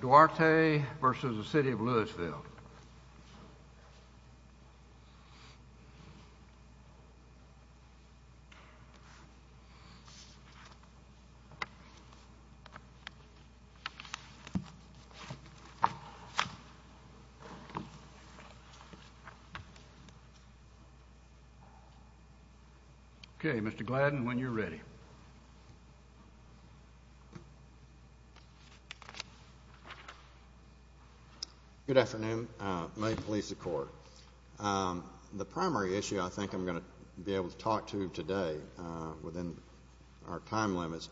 Duarte v. City of Lewisville, Texas Good afternoon. May it please the Court. The primary issue I think I'm going to be able to talk to today within our time limits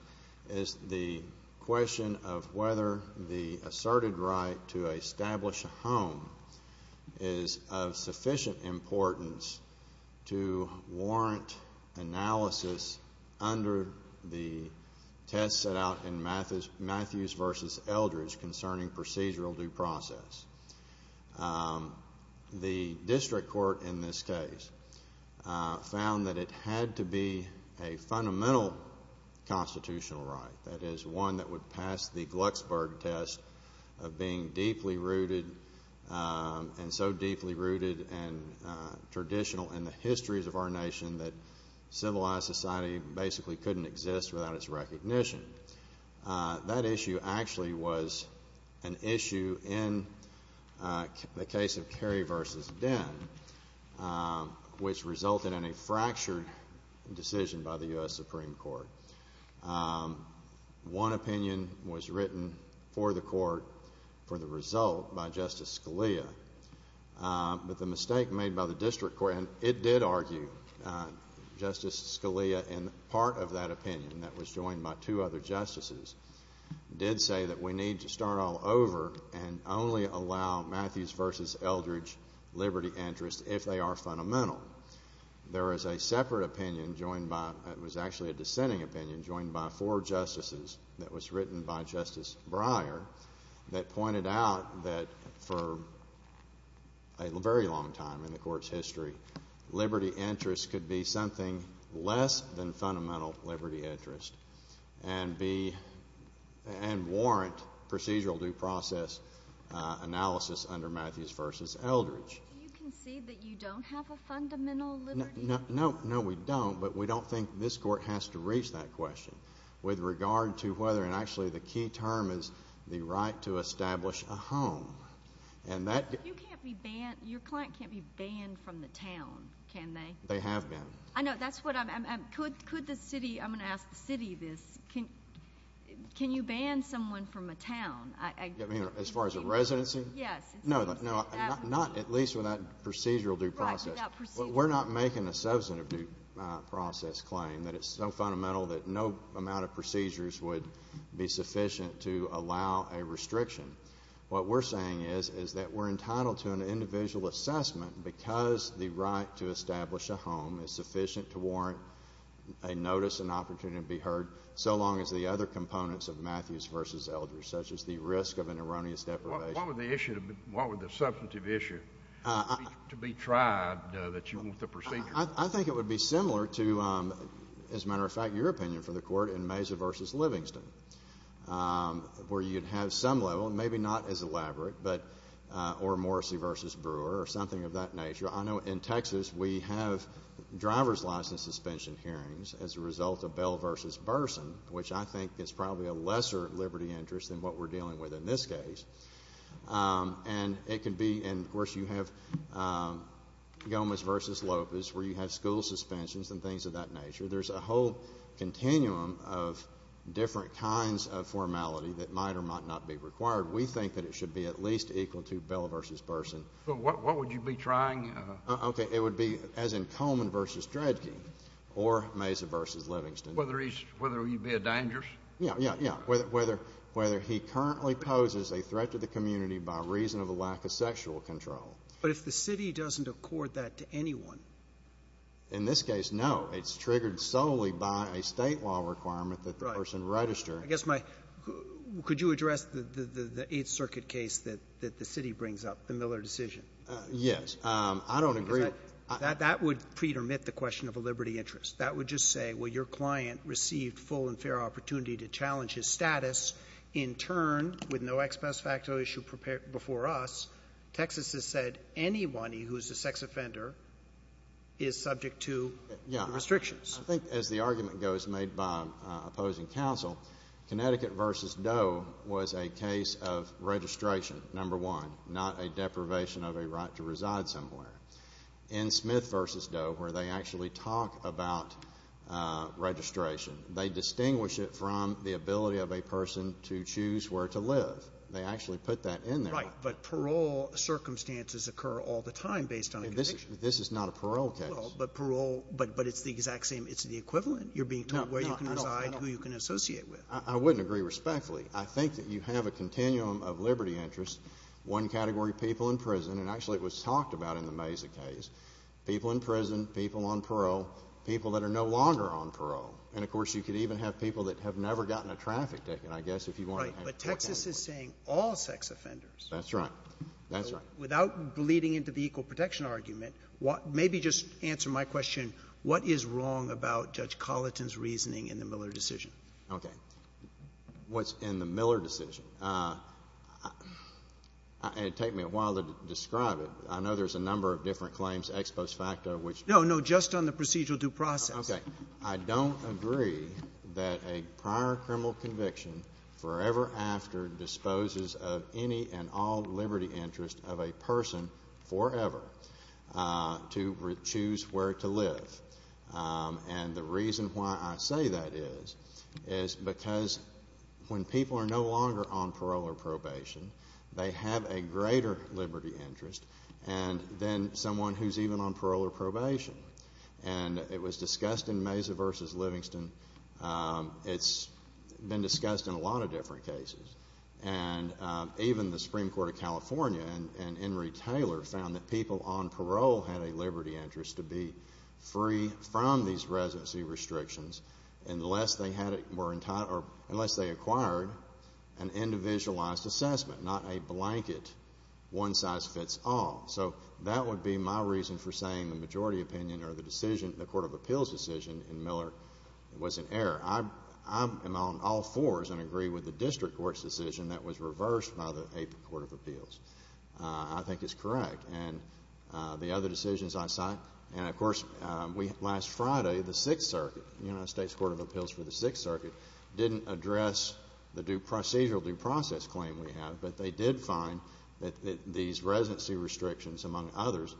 is the question of whether the asserted right to establish a home is of sufficient importance to warrant analysis under the test set out in Matthews v. Eldredge concerning procedural due process. The district court in this case found that it had to be a fundamental constitutional right, that is one that would pass the Glucksburg test of being deeply rooted and so deeply rooted and traditional in the histories of our nation that civilized society basically couldn't exist without its recognition. That issue actually was an issue in the case of Kerry v. Den, which resulted in a fractured decision by the U.S. Supreme Court. One opinion was written for the Court for the result by Justice Scalia, but the mistake made by the district court, and it did argue Justice Scalia in part of that opinion that was joined by two other justices, did say that we need to start all over and only allow Matthews v. Eldredge liberty interests if they are fundamental. There is a separate opinion joined by, it was actually a dissenting opinion joined by four justices that was written by Justice Breyer that pointed out that for a very long time in the Court's history, liberty interests could be something less than fundamental liberty interest and be, and warrant procedural due process analysis under Matthews v. Eldredge. You can see that you don't have a fundamental liberty interest? No, we don't, but we don't think this court has to reach that question with regard to whether, and actually the key term is the right to establish a home. You can't be banned, your client can't be banned from the town, can they? They have been. I know, that's what I'm, could the city, I'm going to ask the city this, can you ban someone from a town? I mean, as far as a residency? Yes. No, no, not at least without procedural due process. Right, without procedure. We're not making a substantive due process claim that it's so fundamental that no amount of procedures would be sufficient to allow a restriction. What we're saying is, is that we're entitled to an individual assessment because the right to establish a home is sufficient to warrant a notice and opportunity to be assessed. There are other components of Matthews v. Eldredge, such as the risk of an erroneous deprivation. What would the issue, what would the substantive issue to be tried that you want the procedure? I think it would be similar to, as a matter of fact, your opinion for the court in Mazer v. Livingston, where you'd have some level, maybe not as elaborate, but, or Morrissey v. Brewer, or something of that nature. I know in Texas we have driver's license suspension hearings as a result of Bell v. Burson, which I think is probably a lesser liberty interest than what we're dealing with in this case. And it could be, and of course you have Gomez v. Lopez, where you have school suspensions and things of that nature. There's a whole continuum of different kinds of formality that might or might not be required. We think that it should be at least equal to Bell v. Burson. What would you be trying? Okay, it would be Mazer v. Dredge or Mazer v. Livingston. Whether you'd be a dangerous? Yeah, yeah, yeah. Whether he currently poses a threat to the community by reason of a lack of sexual control. But if the city doesn't accord that to anyone? In this case, no. It's triggered solely by a State law requirement that the person register. I guess my, could you address the 8th Circuit case that the city brings up, the Miller decision? Yes. I don't agree with that. That would pre-dermit the question of a liberty interest. That would just say, well, your client received full and fair opportunity to challenge his status. In turn, with no expose factor issue prepared before us, Texas has said anyone who is a sex offender is subject to restrictions. Yeah. I think as the argument goes, made by opposing counsel, Connecticut v. Doe was a case of registration, number one, not a deprivation of a right to reside somewhere. In Smith v. Doe, where they actually talk about registration, they distinguish it from the ability of a person to choose where to live. They actually put that in there. Right. But parole circumstances occur all the time based on a conviction. This is not a parole case. But parole, but it's the exact same, it's the equivalent. You're being told where you can reside, who you can associate with. I wouldn't agree respectfully. I think that you have a continuum of liberty interest, one category people in prison, and actually it was talked about in the Mesa case, people in prison, people on parole, people that are no longer on parole. And of course, you could even have people that have never gotten a traffic ticket, I guess, if you wanted to have a traffic ticket. Right. But Texas is saying all sex offenders. That's right. That's right. Without bleeding into the equal protection argument, maybe just answer my question, what is wrong about Judge Colliton's reasoning in the Miller decision? Okay. What's in the Miller decision? It would take me a while to describe it. I know there's a number of different claims, ex post facto, which No, no. Just on the procedural due process. Okay. I don't agree that a prior criminal conviction forever after disposes of any and all liberty interest of a person forever to choose where to live. And the reason why I say that is, is because when people are no longer on parole or probation, they have a greater liberty interest than someone who's even on parole or probation. And it was discussed in Mesa v. Livingston. It's been discussed in a lot of different cases. And even the Supreme Court of California and Henry Taylor found that people on parole had a liberty interest to be free from these residency restrictions unless they acquired an individualized assessment, not a blanket one-size-fits-all. So that would be my reason for saying the majority opinion or the Court of Appeals decision in Miller was in error. I am on all fours and agree with the District Court's decision that was reversed by the Court of Appeals. I think it's correct. And the other decisions I cite, and, of course, we last Friday, the Sixth Circuit, the United States Court of Appeals for the Sixth Circuit, didn't address the procedural due process claim we have, but they did find that these residency restrictions, among others,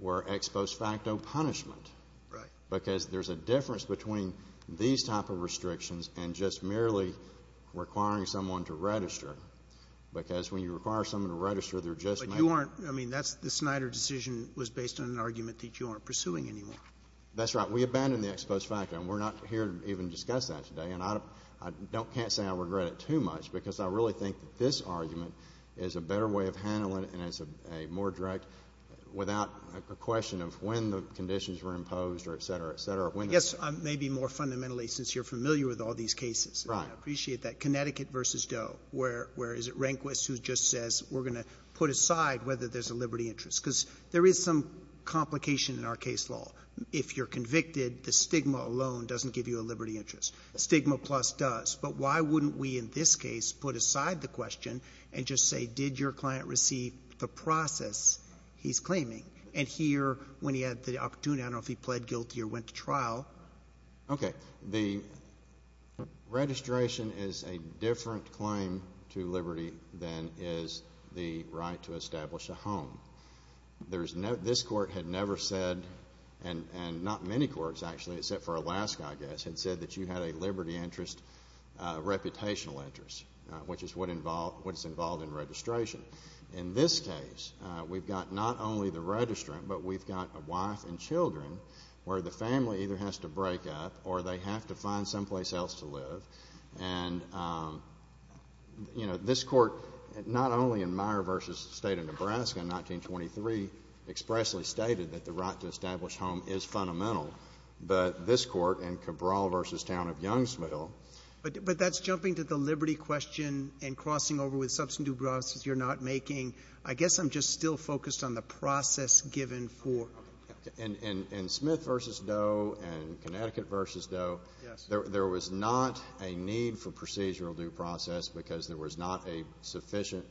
were ex post facto punishment. Right. Because there's a difference between these type of restrictions and just merely requiring someone to register. Because when you require someone to register, they're just making I mean, that's the Snyder decision was based on an argument that you aren't pursuing anymore. That's right. We abandoned the ex post facto. And we're not here to even discuss that today. And I don't can't say I regret it too much, because I really think that this argument is a better way of handling it and it's a more direct, without a question of when the conditions were imposed or et cetera, et cetera, when the I guess maybe more fundamentally, since you're familiar with all these cases. Right. I appreciate that. Connecticut v. Doe, where is it Rehnquist who just says we're going to put aside whether there's a liberty interest? Because there is some complication in our case law. If you're convicted, the stigma alone doesn't give you a liberty interest. Stigma Plus does. But why wouldn't we in this case put aside the question and just say did your client receive the process he's claiming? And here, when he had the opportunity, I don't In this case, we've got not only the registrant, but we've got a wife and children where the to break up or they have to find someplace else to live. And, you know, this Court, not only in Meyer v. State of Nebraska in 1923, expressly stated that the right to establish home is fundamental, but this Court in Cabral v. Town of Youngsville But that's jumping to the liberty question and crossing over with substantive grasses you're not making. I guess I'm just still focused on the process given for In Smith v. Doe and Connecticut v. Doe, there was not a need for procedural due process because there was not a sufficient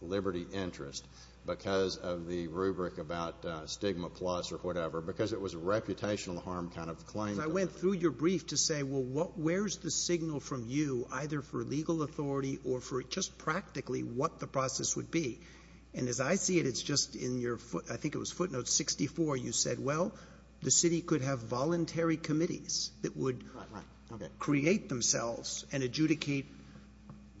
liberty interest because of the rubric about Stigma Plus or whatever, because it was a reputational harm kind of claim. I went through your brief to say, well, where's the signal from you, either for legal authority or for just practically what the process would be? And as I see it, it's just in your foot note 64, you said, well, the city could have voluntary committees that would create themselves and adjudicate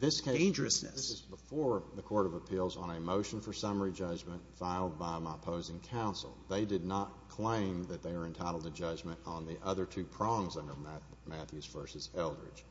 dangerousness. This case, this is before the Court of Appeals on a motion for summary judgment filed by my opposing counsel. They did not claim that they were entitled to judgment on the other two prongs under Matthews v. Eldridge.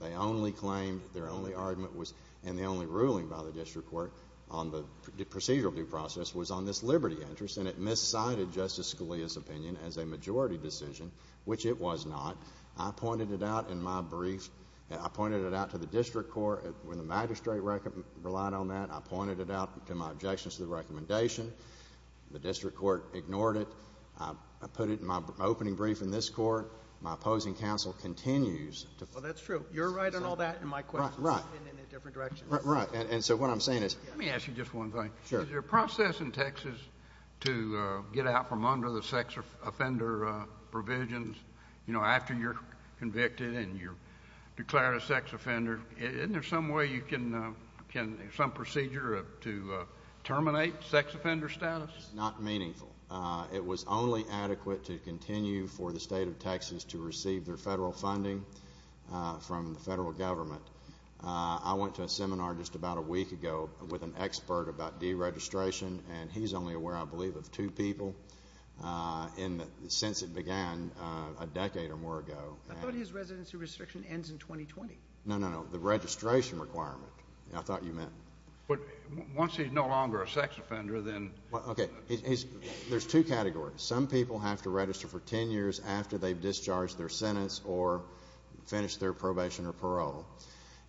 They only claimed, their only argument was, and the only ruling by the district court on the procedural due process was on this liberty interest, and it miscited Justice Scalia's opinion as a majority decision, which it was not. I pointed it out in my brief. I pointed it out to the district court. When the magistrate relied on that, I pointed it out to my objections to the recommendation. The district court ignored it. I put it in my opening brief in this court. My opposing counsel continues to— Well, that's true. You're right on all that, and my question is in a different direction. Right. And so what I'm saying is— Let me ask you just one thing. Is there a process in Texas to get out from under the sex offender provisions, you know, after you're convicted and you're declared a sex offender? Isn't there some way you can—some procedure to terminate sex offender status? Not meaningful. It was only adequate to continue for the state of Texas to receive their federal government. I went to a seminar just about a week ago with an expert about deregistration, and he's only aware, I believe, of two people since it began a decade or more ago. I thought his residency restriction ends in 2020. No, no, no. The registration requirement. I thought you meant— But once he's no longer a sex offender, then— Okay. There's two categories. Some people have to register for 10 years after they've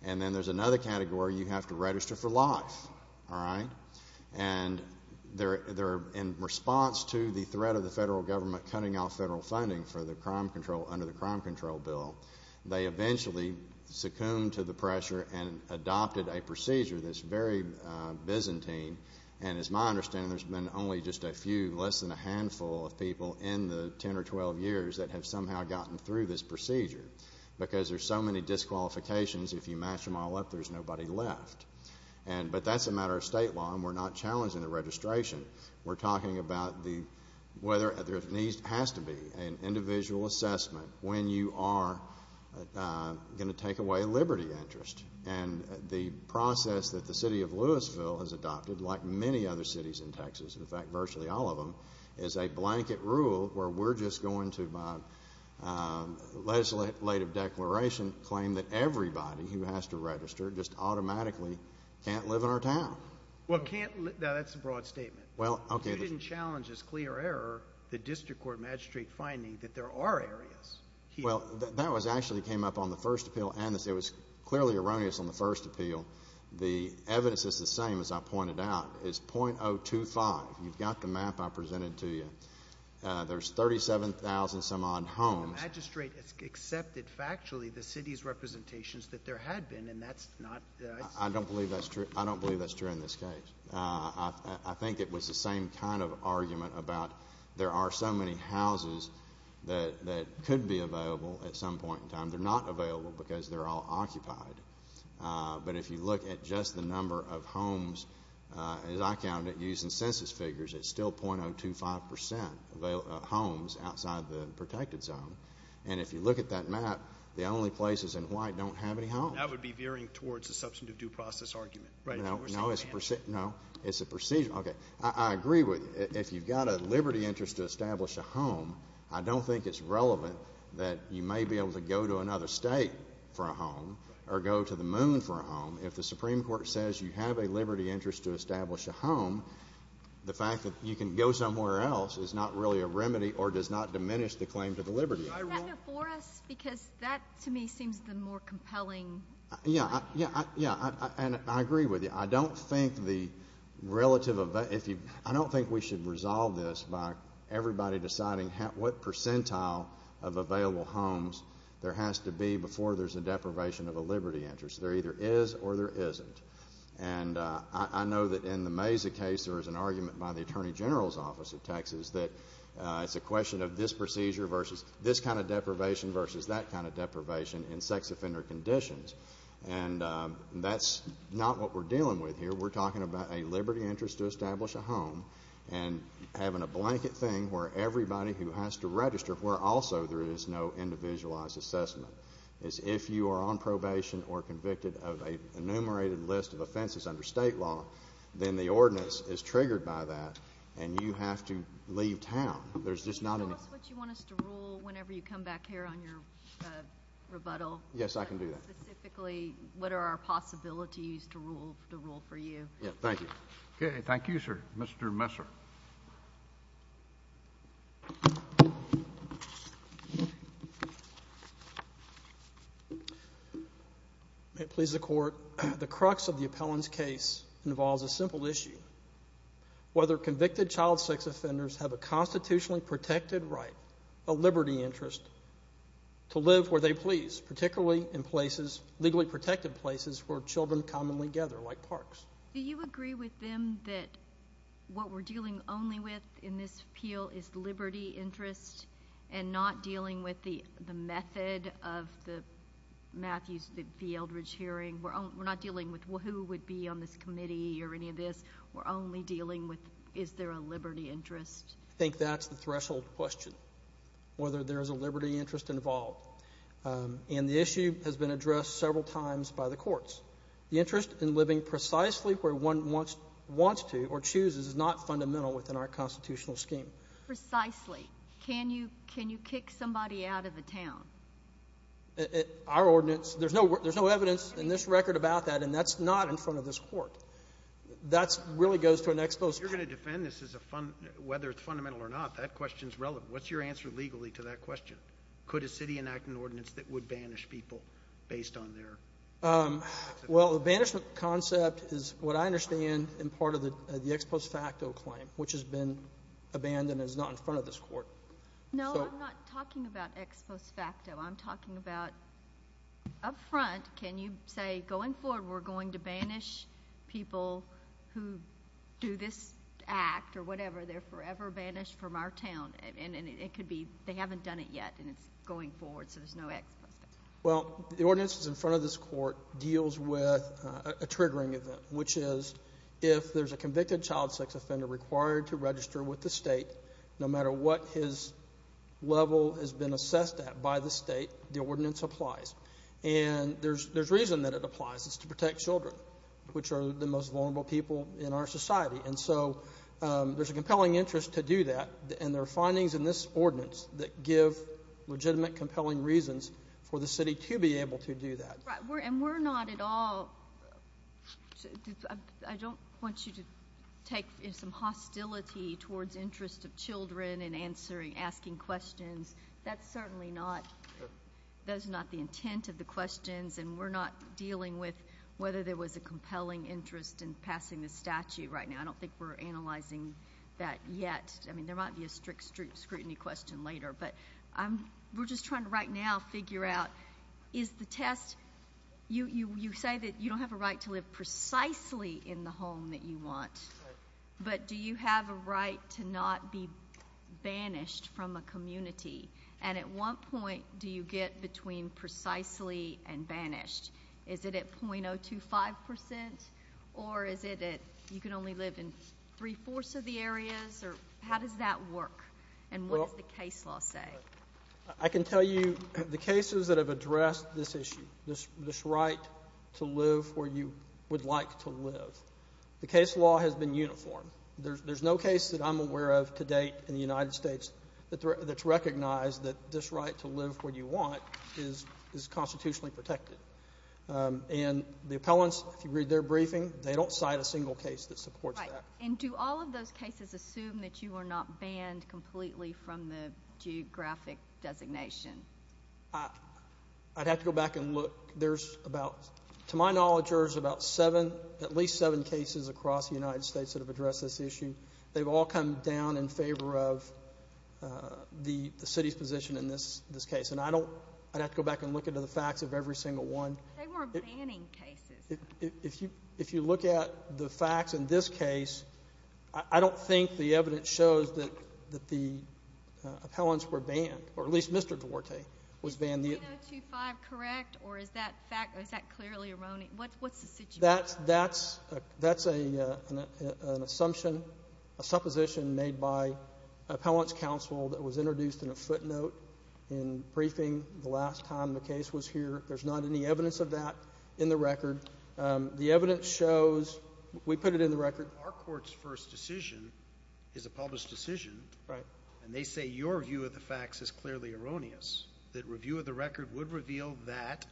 And then there's another category. You have to register for life. All right? And they're in response to the threat of the federal government cutting off federal funding for the crime control under the Crime Control Bill. They eventually succumbed to the pressure and adopted a procedure that's very Byzantine, and as my understanding, there's been only just a few, less than a handful of people in the 10 or 12 years that have somehow gotten through this procedure because there's so many disqualifications. If you mash them all up, there's nobody left. But that's a matter of state law, and we're not challenging the registration. We're talking about whether there has to be an individual assessment when you are going to take away liberty interest. And the process that the city of Louisville has adopted, like many other cities in Texas—in fact, virtually all of them—is a blanket rule where we're just going to, by legislative declaration, claim that everybody who has to register just automatically can't live in our town. Well, can't—now, that's a broad statement. Well, okay. You didn't challenge as clear error the district court magistrate finding that there are areas here. Well, that was actually came up on the first appeal, and it was clearly erroneous on the first appeal. The evidence is the same, as I pointed out. It's .025. You've got the map I presented to you. There's 37,000-some-odd homes. The magistrate has accepted factually the city's representations that there had been, and that's not— I don't believe that's true. I don't believe that's true in this case. I think it was the same kind of argument about there are so many houses that could be available at some point in time. They're not available because they're all occupied. But if you look at just the .025 percent of homes outside the protected zone, and if you look at that map, the only places in white don't have any homes. That would be veering towards a substantive due process argument. Right. No, it's a procedure. Okay. I agree with you. If you've got a liberty interest to establish a home, I don't think it's relevant that you may be able to go to another state for a home or go to the moon for a home. If the Supreme Court says you have a liberty interest to go somewhere else, it's not really a remedy or does not diminish the claim to the liberty interest. Is that not for us? Because that, to me, seems the more compelling argument. Yeah. Yeah. Yeah. And I agree with you. I don't think the relative—I don't think we should resolve this by everybody deciding what percentile of available homes there has to be before there's a deprivation of a liberty interest. There either is or there isn't. And I know that in the Mesa case, there was an argument by the Attorney General's Office of Texas that it's a question of this procedure versus this kind of deprivation versus that kind of deprivation in sex offender conditions. And that's not what we're dealing with here. We're talking about a liberty interest to establish a home and having a blanket thing where everybody who has to register, where also there is no individualized assessment, is if you are on probation or convicted of an enumerated list of offenses under state law, then the ordinance is triggered by that and you have to leave town. There's just not an— Tell us what you want us to rule whenever you come back here on your rebuttal. Yes, I can do that. Specifically, what are our possibilities to rule for you? Yeah. Thank you. Okay. Thank you, sir. Mr. Messer. May it please the Court, the crux of the appellant's case involves a simple issue. Whether convicted child sex offenders have a constitutionally protected right, a liberty interest, to live where they please, particularly in places, legally protected places, where children commonly gather, like parks. Do you agree with them that what we're dealing only with in this appeal is liberty interest and not dealing with the method of the Matthews v. Eldredge hearing? We're not dealing with who would be on this committee or any of this. We're only dealing with is there a liberty interest? I think that's the threshold question, whether there's a liberty interest involved. And the issue has been addressed several times by the courts. The interest in living precisely where one wants to or chooses is not fundamental within our constitutional scheme. Precisely. Can you kick somebody out of the town? Our ordinance, there's no evidence in this record about that, and that's not in front of this court. That really goes to an ex post facto. You're going to defend this as a fund, whether it's fundamental or not, that question's relevant. What's your answer legally to that question? Could a city enact an ordinance that would banish people based on their... Well, the banishment concept is what I understand in part of the ex post facto claim, which has been abandoned and is not in front of this court. No, I'm not talking about ex post facto. I'm talking about up front, can you say going forward we're going to banish people who do this act or whatever? They're forever banished from our town, and it could be they haven't done it yet, and it's going forward, so there's no ex post facto. Well, the ordinance that's in front of this court deals with a triggering event, which is if there's a convicted child sex offender required to register with the state, no matter what his level has been assessed at by the state, the ordinance applies. There's reason that it applies. It's to protect children, which are the most vulnerable people in our society. There's a compelling interest to do that, and there are findings in this ordinance that give legitimate, compelling reasons for the city to be able to do that. And we're not at all, I don't want you to take some hostility towards interest of children in answering, asking questions. That's certainly not, that's not the intent of the questions, and we're not dealing with whether there was a compelling interest in passing the statute right now. I don't think we're analyzing that yet. I mean, there might be a strict scrutiny question later, but we're just trying to right now figure out, is the test, you say that you don't have a right to live precisely in the home that you want, but do you have a right to not be banished from a community? And at what point do you get between precisely and banished? Is it at .025 percent, or is it that you can only live in three-fourths of the areas, or how does that work, and what does the case law say? I can tell you, the cases that have addressed this issue, this right to live where you would like to live, the case law has been uniform. There's no case that I'm aware of to date in the United States that's recognized that this right to live where you want is constitutionally protected. And the appellants, if you read their briefing, they don't cite a single case that supports that. And do all of those cases assume that you are not banned completely from the geographic designation? I'd have to go back and look. There's about, to my knowledge, there's about seven, at least seven cases across the United States that have addressed this issue. They've all come down in favor of the city's position in this case, and I don't, I'd have to go back and look into the facts of every single one. They weren't banning cases. If you look at the facts in this case, I don't think the evidence shows that the appellants were banned, or at least Mr. Duarte was banned. Is 3025 correct, or is that fact, or is that clearly erroneous? What's the situation? That's an assumption, a supposition made by appellants counsel that was introduced in a footnote in briefing the last time the case was here. There's not any evidence of that in the record. The evidence shows, we put it in the record. Our court's first decision is a published decision. Right. And they say your view of the facts is clearly erroneous, that review of the record would reveal that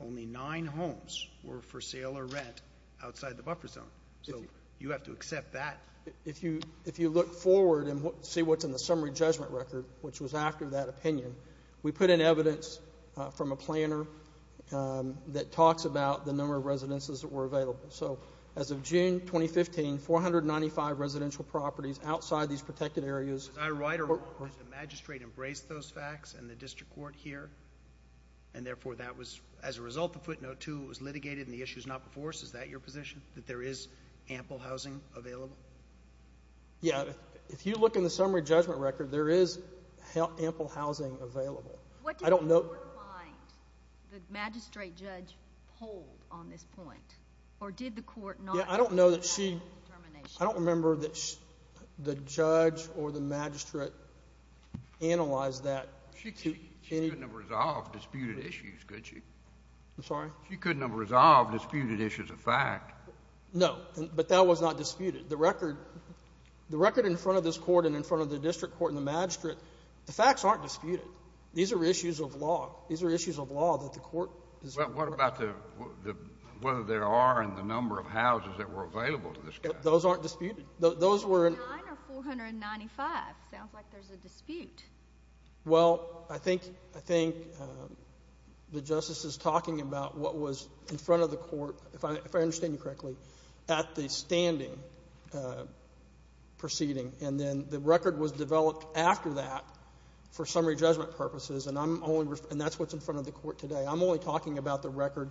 only nine homes were for sale or rent outside the buffer zone. So, you have to accept that. If you, if you look forward and see what's in the summary judgment record, which was after that opinion, we put in evidence from a planner that talks about the number of residences that were available. So, as of June 2015, 495 residential properties outside these protected areas. Is that right, or has the magistrate embraced those facts and the district court here, and therefore that was, as a result of footnote two, it was litigated and the issue's not before us? Is that your position, that there is ample housing available? Yeah, if you look in the record, I don't know. What did the court find the magistrate judge pulled on this point, or did the court not? Yeah, I don't know that she, I don't remember that the judge or the magistrate analyzed that. She couldn't have resolved disputed issues, could she? I'm sorry? She couldn't have resolved disputed issues of fact. No, but that was not disputed. The record, the record in front of this court and in front of the district court and the district court, these are issues of law. These are issues of law that the court is reporting. Well, what about the, whether there are in the number of houses that were available to this case? Those aren't disputed. Those were in. 49 or 495. Sounds like there's a dispute. Well, I think, I think the justice is talking about what was in front of the court, if I understand you correctly, at the standing proceeding, and then the record was developed after that for summary judgment purposes, and I'm only, and that's what's in front of the court today. I'm only talking about the record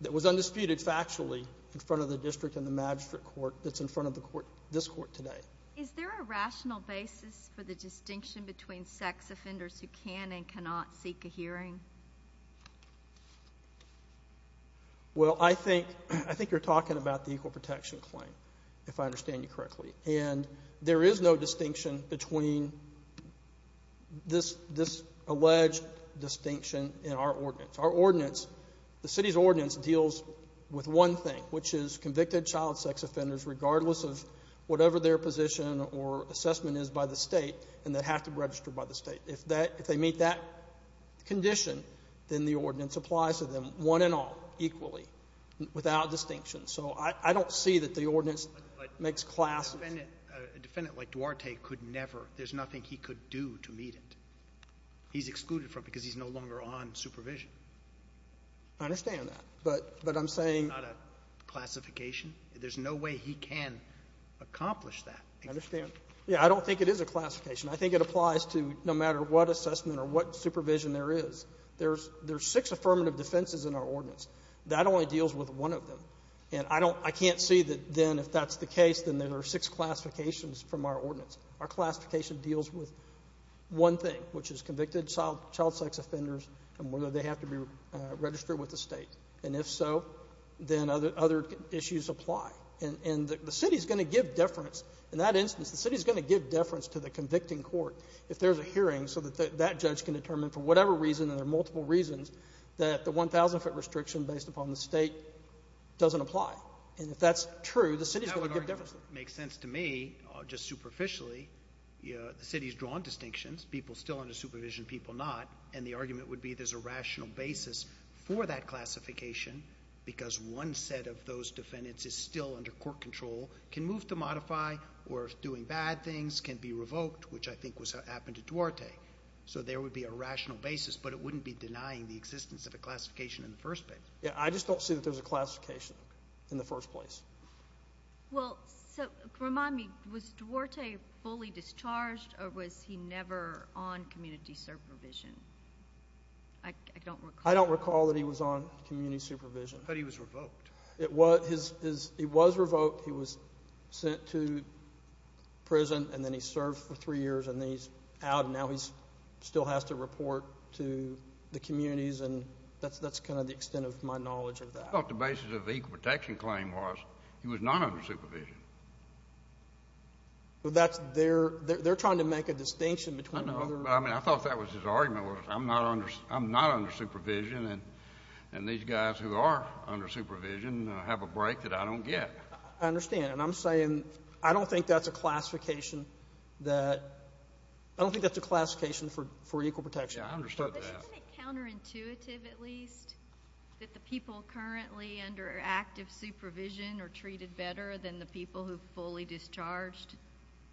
that was undisputed factually in front of the district and the magistrate court that's in front of the court, this court today. Is there a rational basis for the distinction between sex offenders who can and cannot seek a hearing? Well, I think, I think you're talking about the equal protection claim, if I understand you correctly, and there is no distinction between this alleged distinction in our ordinance. Our ordinance, the city's ordinance deals with one thing, which is convicted child sex offenders, regardless of whatever their position or assessment is by the state, and they have to register by the state. If that, if they meet that condition, then the ordinance applies to them, one and all, equally, without distinction. So, I don't see that the makes classes. A defendant like Duarte could never, there's nothing he could do to meet it. He's excluded from it because he's no longer on supervision. I understand that, but I'm saying. Not a classification. There's no way he can accomplish that. I understand. Yeah, I don't think it is a classification. I think it applies to no matter what assessment or what supervision there is. There's six affirmative defenses in our ordinance. That only deals with one of them, and I can't see that then, if that's the case, then there are six classifications from our ordinance. Our classification deals with one thing, which is convicted child sex offenders, and whether they have to be registered with the state, and if so, then other issues apply, and the city's going to give deference. In that instance, the city's going to give deference to the convicting court if there's a hearing so that that judge can determine, for whatever reason, and there are multiple reasons, that the 1,000 foot restriction based upon the state doesn't apply, and if that's true, the city's going to give deference. That would make sense to me, just superficially. The city's drawn distinctions. People still under supervision, people not, and the argument would be there's a rational basis for that classification because one set of those defendants is still under court control, can move to modify, or if doing bad things, can be revoked, which I think happened to Duarte, so there would be a rational basis, but it wouldn't be denying the existence of a classification in the first place. Yeah, I just don't see that there's a classification in the first place. Well, so remind me, was Duarte fully discharged, or was he never on community supervision? I don't recall. I don't recall that he was on community supervision. I thought he was revoked. He was revoked. He was sent to prison, and then he served for three years, and then he's out, and now he still has to report to the communities, and that's kind of the extent of my knowledge of that. I thought the basis of the equal protection claim was he was not under supervision. Well, that's, they're trying to make a distinction between. I know, but I mean, I thought that was his argument was I'm not under supervision, and these guys who are under supervision have a break that I don't get. I understand, and I'm saying I don't think that's a classification that, I don't think that's a classification for equal protection. Yeah, I understood that. Isn't it counterintuitive, at least, that the people currently under active supervision are treated better than the people who are fully discharged?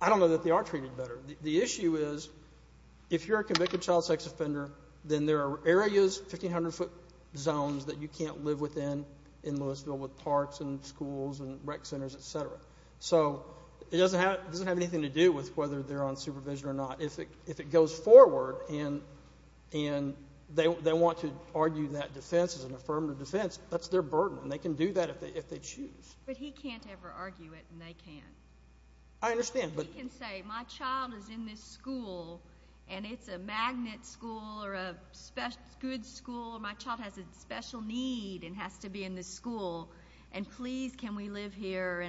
I don't know that they are treated better. The issue is if you're a convicted child sex offender, then there are areas, 1,500-foot zones, that you can't live within in Louisville with parks and schools and rec centers, et cetera. So, it doesn't have anything to do with whether they're on supervision or not. If it goes forward, and they want to argue that defense is an affirmative defense, that's their burden, and they can do that if they choose. But he can't ever argue it, and they can't. I understand, but- He can say, my child is in this school, and it's a magnet school or a good school, or my child has a special need and has to be in this school, and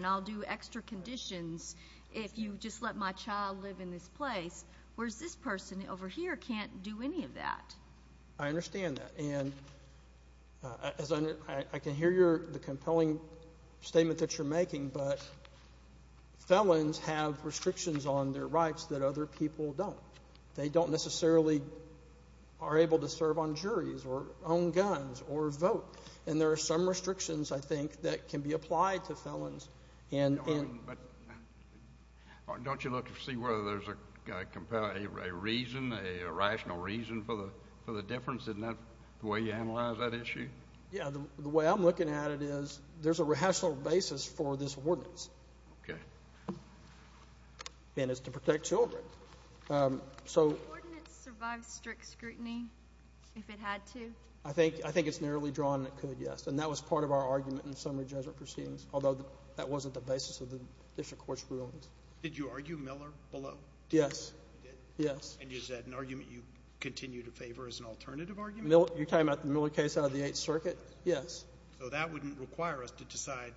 I'll do extra conditions if you just let my child live in this place, whereas this person over here can't do any of that. I understand that, and I can hear the compelling statement that you're making, but felons have restrictions on their rights that other people don't. They don't necessarily are able to serve on juries or own guns or vote, and there are some restrictions, I think, that can be applied to felons. But don't you look to see whether there's a reason, a rational reason for the difference? Isn't that the way you analyze that issue? Yeah, the way I'm looking at it is there's a rational basis for this ordinance. Okay. And it's to protect children. So- Would the ordinance survive strict scrutiny if it had to? I think it's narrowly drawn that it could, yes. And that was part of our argument in summary judgment proceedings, although that wasn't the basis of the district court's rulings. Did you argue Miller below? Yes. You did? Yes. And is that an argument you continue to favor as an alternative argument? You're talking about the Miller case out of the Eighth Circuit? Yes. So that wouldn't require us to decide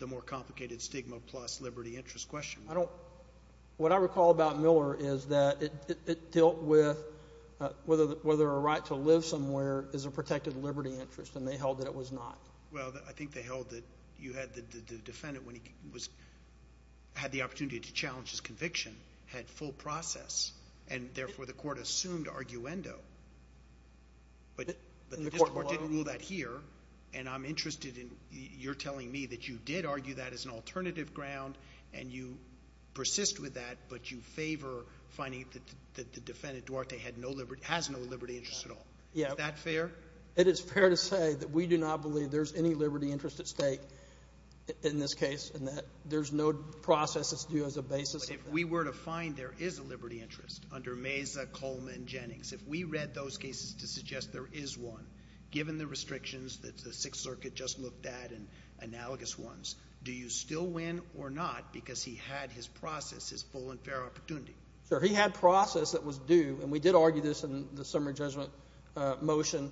the more complicated stigma plus liberty interest question. What I recall about Miller is that it dealt with whether a right to live somewhere is a protected liberty interest, and they held that it was not. Well, I think they held that you had the defendant, when he had the opportunity to challenge his conviction, had full process, and therefore the court assumed arguendo. But the district court didn't rule that here, and I'm interested in you're telling me that you did argue that as an alternative ground, and you persist with that, but you favor finding that the defendant, Duarte, has no liberty interest at all. Yeah. Is that fair? It is fair to say that we do not believe there's any liberty interest at stake in this case, and that there's no process that's due as a basis of that. But if we were to find there is a liberty interest under Meza, Coleman, Jennings, if we read those cases to suggest there is one, given the restrictions that the Sixth Circuit just looked at and analogous ones, do you still win or not because he had his process, his full and fair opportunity? Sure. He had process that was due, and we did argue this in the summary judgment motion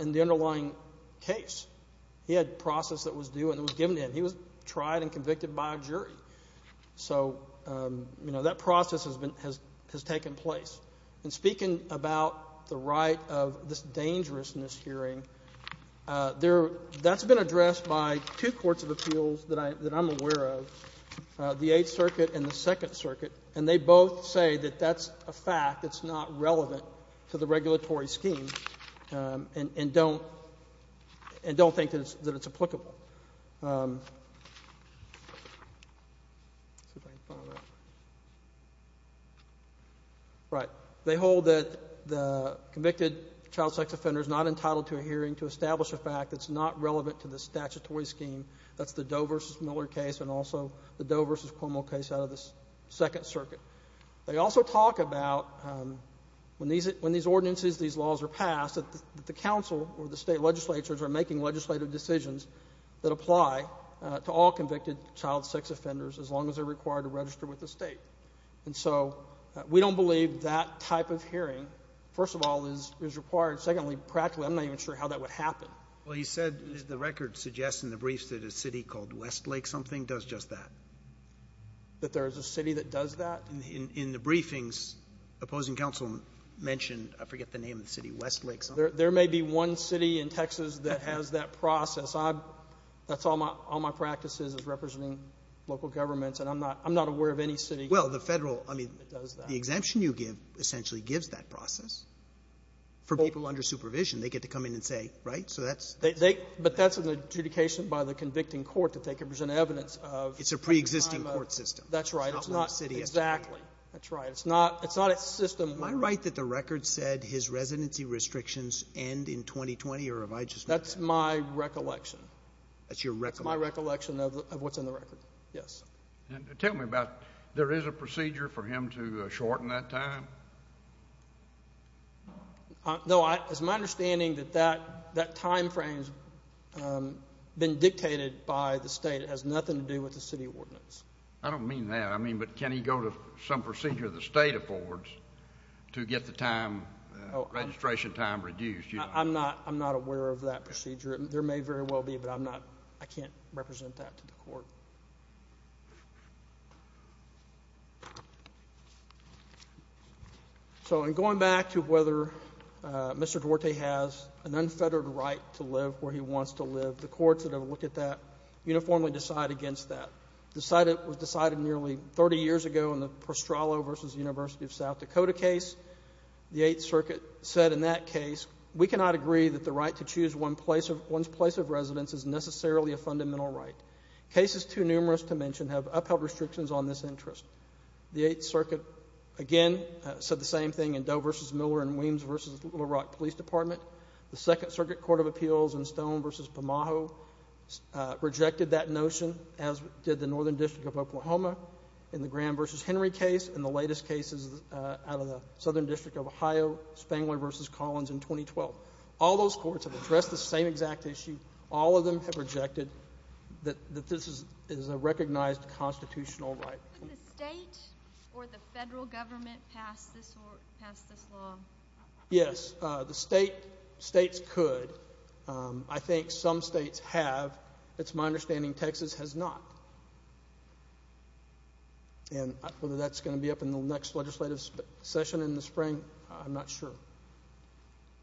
in the underlying case. He had process that was due, and it was given to him. He was tried and convicted by a jury. So, you know, that process has been, has taken place. And speaking about the right of this appeals that I'm aware of, the Eighth Circuit and the Second Circuit, and they both say that that's a fact that's not relevant to the regulatory scheme and don't think that it's applicable. Right. They hold that the convicted child sex offender is not entitled to a hearing to establish a fact that's not relevant to the statutory scheme. That's the Doe v. Miller case and also the Doe v. Cuomo case out of the Second Circuit. They also talk about when these ordinances, these laws are passed, that the council or the state legislatures are making legislative decisions that apply to all convicted child sex offenders as long as they're required to register with the state. And so we don't believe that type of hearing, first of all, is required. Secondly, practically, I'm not even sure how that would happen. Well, you said the record suggests in the briefs that a city called Westlake something does just that. That there is a city that does that? In the briefings, opposing counsel mentioned, I forget the name of the city, Westlake something. There may be one city in Texas that has that process. I've — that's all my — all my practice is, is representing local governments. And I'm not — I'm not aware of any city that does that. Well, the Federal — I mean, the exemption you give essentially gives that process for people under supervision. They get to come in and say — right? So that's — They — but that's an adjudication by the convicting court that they can present evidence of — It's a preexisting court system. That's right. It's not — It's not what the city has to do. Exactly. That's right. It's not — it's not a system — Am I right that the record said his residency restrictions end in 2020, or have I just — That's my recollection. That's your recollection? That's my recollection of what's in the record. Yes. And tell me about — there is a procedure for him to shorten that time? No, I — it's my understanding that that time frame's been dictated by the state. It has nothing to do with the city ordinance. I don't mean that. I mean, but can he go to some procedure the state affords to get the time — registration time reduced? I'm not — I'm not aware of that procedure. There may very well be, but I'm not — I can't represent that to the court. So, in going back to whether Mr. Duarte has an unfettered right to live where he wants to live, the courts that have looked at that uniformly decide against that. Decided — was decided nearly 30 years ago in the Pastrallo v. University of South Dakota case. The Eighth Circuit said in that case, we cannot agree that the right to choose one place of — one's place of residence is necessarily a fundamental right. Cases too numerous to mention have upheld restrictions on this interest. The Eighth Circuit, again, said the same thing in Doe v. Miller and Williams v. Little Rock Police Department. The Second Circuit Court of Appeals in Stone v. Pomaho rejected that notion, as did the Northern District of Oklahoma in the Graham v. Henry case and the latest cases out of the Southern District of Ohio, Spangler v. Collins in 2012. All those courts have addressed the same exact issue. All of them have rejected that this is a recognized constitutional right. Could the state or the federal government pass this law? Yes, the state — states could. I think some states have. It's my understanding Texas has not. And whether that's going to be up in the next legislative session in the spring, I'm not sure.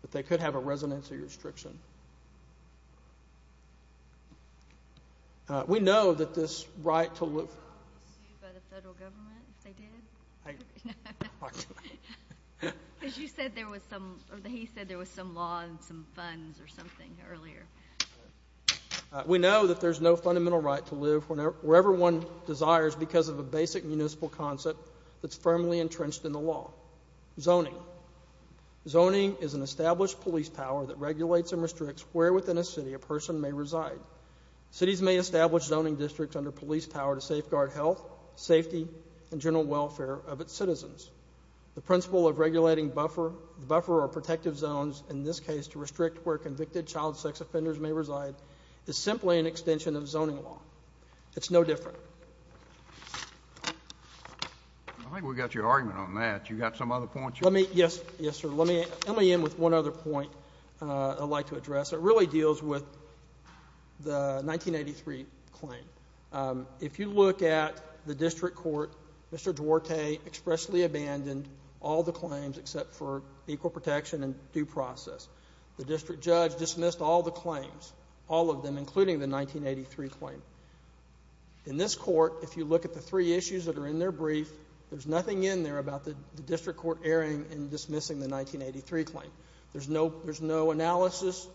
But they could have a residency restriction. We know that this right to live — Were you sued by the federal government if they did? I — Because you said there was some — or he said there was some law and some funds or something earlier. We know that there's no fundamental right to live wherever one desires because of a basic municipal concept that's firmly entrenched in the law — zoning. I think we got your argument on that. You got some other points? Let me — yes, yes, sir. Let me end with one other point I'd like to address. It really deals with the 1983 claim. If you look at the district court, Mr. Duarte expressly abandoned all the claims except for equal protection and due process. The district judge dismissed all the claims, all of them, including the 1983 claim. In this court, if you look at the three issues that are in their brief, there's nothing in there about the district court erring in dismissing the 1983 claim. There's no — there's no analysis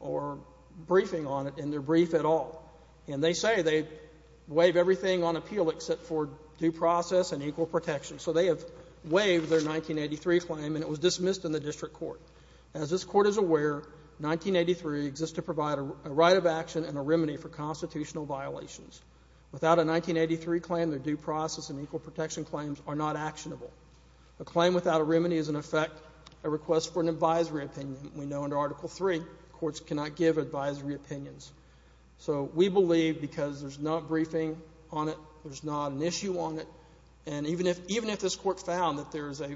or briefing on it in their brief at all. And they say they waive everything on appeal except for due process and equal protection. So they have waived their 1983 claim, and it was dismissed in the district court. As this court is aware, 1983 exists to provide a right of action and a remedy for constitutional violations. Without a 1983 claim, their due process and equal protection claims are not actionable. A claim without a remedy is, in effect, a request for an advisory opinion. We know under Article III, courts cannot give advisory opinions. So we believe, because there's no briefing on it, there's not an issue on it, and even if — even if this court found that there's a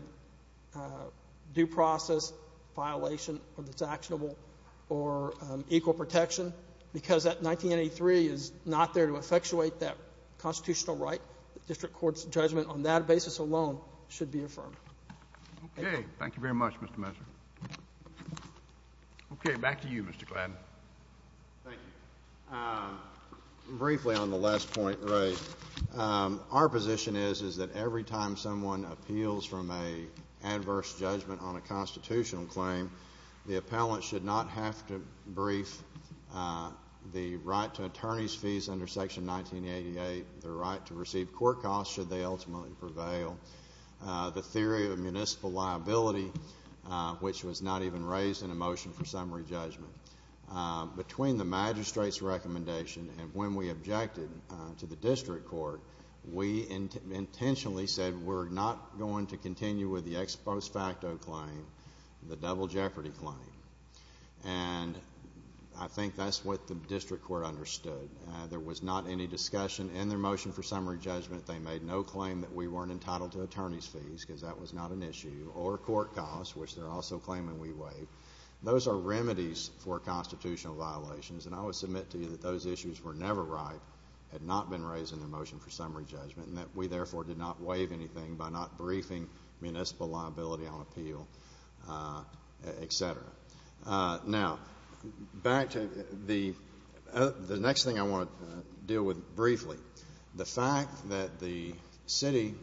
due process violation that's actionable or equal protection, because that 1983 is not there to effectuate that constitutional right, the district court's judgment on that basis alone should be affirmed. Thank you. Okay. Thank you very much, Mr. Messer. Okay. Back to you, Mr. Gladden. Thank you. Briefly, on the last point, Ray, our position is, is that every time someone appeals from an adverse judgment on a constitutional claim, the appellant should not have to brief the right to attorney's fees under Section 1988, the right to receive court costs should they ultimately prevail, the theory of municipal liability, which was not even raised in a motion for summary judgment. Between the magistrate's recommendation and when we objected to the district court, we intentionally said we're not going to continue with the ex post facto claim, the double jeopardy claim, and I think that's what the district court understood. There was not any discussion in their motion for summary judgment. They made no claim that we weren't entitled to attorney's fees, because that was not an issue, or court costs, which they're also claiming we waived. Those are remedies for constitutional violations, and I would submit to you that those issues were never right, had not been raised in the motion for summary judgment, and that we, therefore, did not waive anything by not briefing municipal liability on appeal, etc. Now, back to the next thing I want to deal with briefly. The fact that the city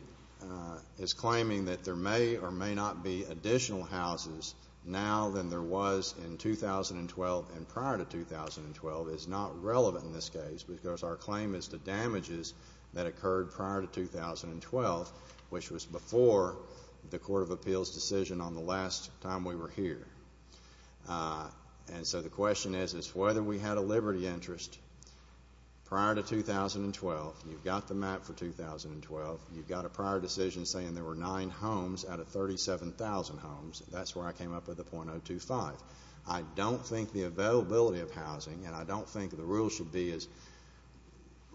is claiming that there may or may not be additional houses now than there was in 2012 and prior to 2012 is not relevant in this case, because our claim is to damages that occurred prior to 2012, which was before the Court of Appeals' decision on the last time we were here. And so the question is, is whether we had a liberty interest prior to 2012. You've got the map for 2012. You've got a prior decision saying there were nine homes out of 37,000 homes. That's where I came up with the .025. I don't think the availability of housing, and I don't think the rule should be as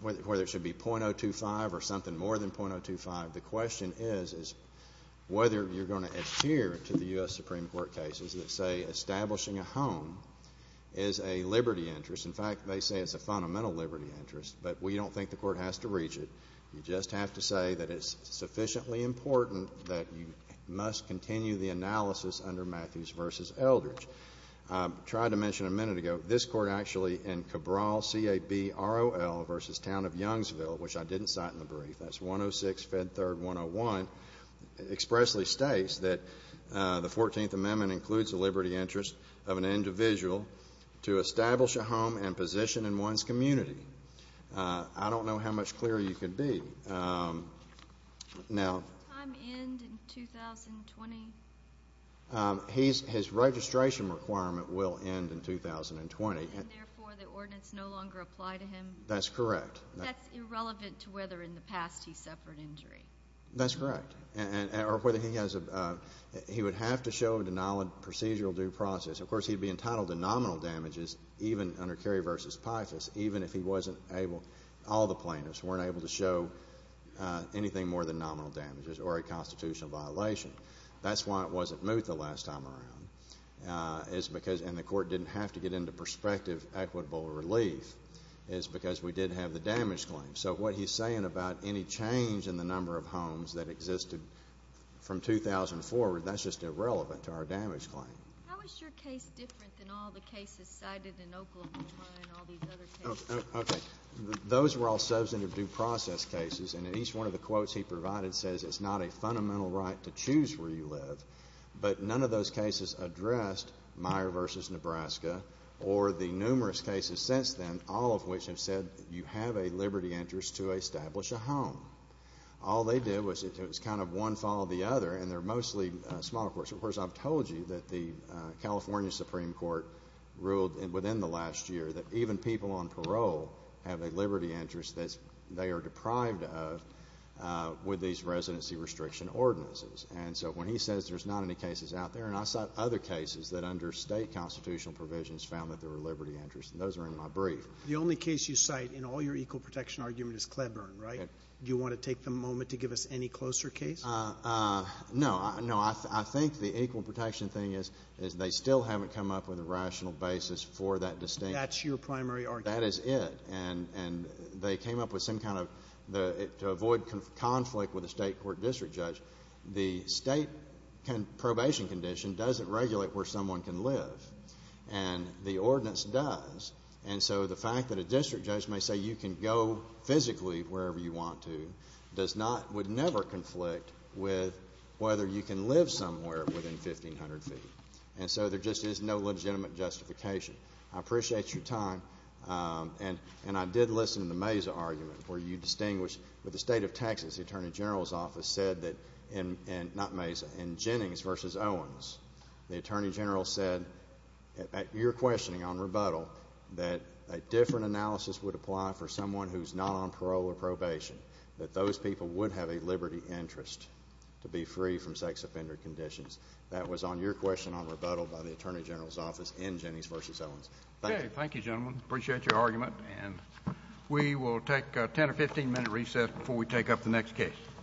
whether it should be .025 or something more than .025. The question is, is whether you're going to adhere to the U.S. Supreme Court cases that say establishing a home is a liberty interest. In fact, they say it's a fundamental liberty interest, but we don't think the Court has to reach it. You just have to say that it's sufficiently important that you must continue the analysis under Matthews v. Eldridge. I tried to mention a minute ago, this Court actually in Cabral, C-A-B-R-O-L v. Town of Youngsville, which I didn't cite in the brief, that's 106, Fed 3rd, 101, expressly states that the Fourteenth Amendment includes the liberty interest of an individual to establish a home and position in one's community. I don't know how much clearer you could be. Now— Does the time end in 2020? His registration requirement will end in 2020. And therefore, the ordinance no longer apply to him? That's correct. That's irrelevant to whether in the past he suffered injury. That's correct, or whether he has a—he would have to show a denial of procedural due process. Of course, he'd be entitled to nominal damages even under Cary v. Pythas, even if he was able—all the plaintiffs weren't able to show anything more than nominal damages or a constitutional violation. That's why it wasn't moved the last time around. It's because—and the Court didn't have to get into prospective equitable relief. It's because we did have the damage claim. So what he's saying about any change in the number of homes that existed from 2000 forward, that's just irrelevant to our damage claim. How is your case different than all the cases cited in Oklahoma and all these other cases? Okay, those were all substantive due process cases, and each one of the quotes he provided says it's not a fundamental right to choose where you live. But none of those cases addressed Meyer v. Nebraska or the numerous cases since then, all of which have said you have a liberty interest to establish a home. All they did was it was kind of one followed the other, and they're mostly smaller courts. Of course, I've told you that the California Supreme Court ruled within the last year that even people on parole have a liberty interest that they are deprived of with these residency restriction ordinances. And so when he says there's not any cases out there, and I cite other cases that under state constitutional provisions found that there were liberty interests, and those are in my brief. The only case you cite in all your equal protection argument is Cleburne, right? Do you want to take the moment to give us any closer case? No. No, I think the equal protection thing is they still haven't come up with a rational basis for that distinct— That's your primary argument? That is it. And they came up with some kind of—to avoid conflict with a state court district judge, the state probation condition doesn't regulate where someone can live, and the ordinance does. And so the fact that a district judge may say you can go physically wherever you want to does not—would never conflict with whether you can live somewhere within 1,500 feet. And so there just is no legitimate justification. I appreciate your time, and I did listen to the Mesa argument where you distinguished with the state of Texas, the Attorney General's office said that—not Mesa—in Jennings v. Owens, the Attorney General said, at your questioning on rebuttal, that a different analysis would apply for someone who's not on parole or probation, that those people would have a liberty interest to be free from sex offender conditions. That was on your question on rebuttal by the Attorney General's office in Jennings v. Owens. Thank you. Okay. Thank you, gentlemen. I appreciate your argument. And we will take a 10 or 15-minute recess before we take up the next case.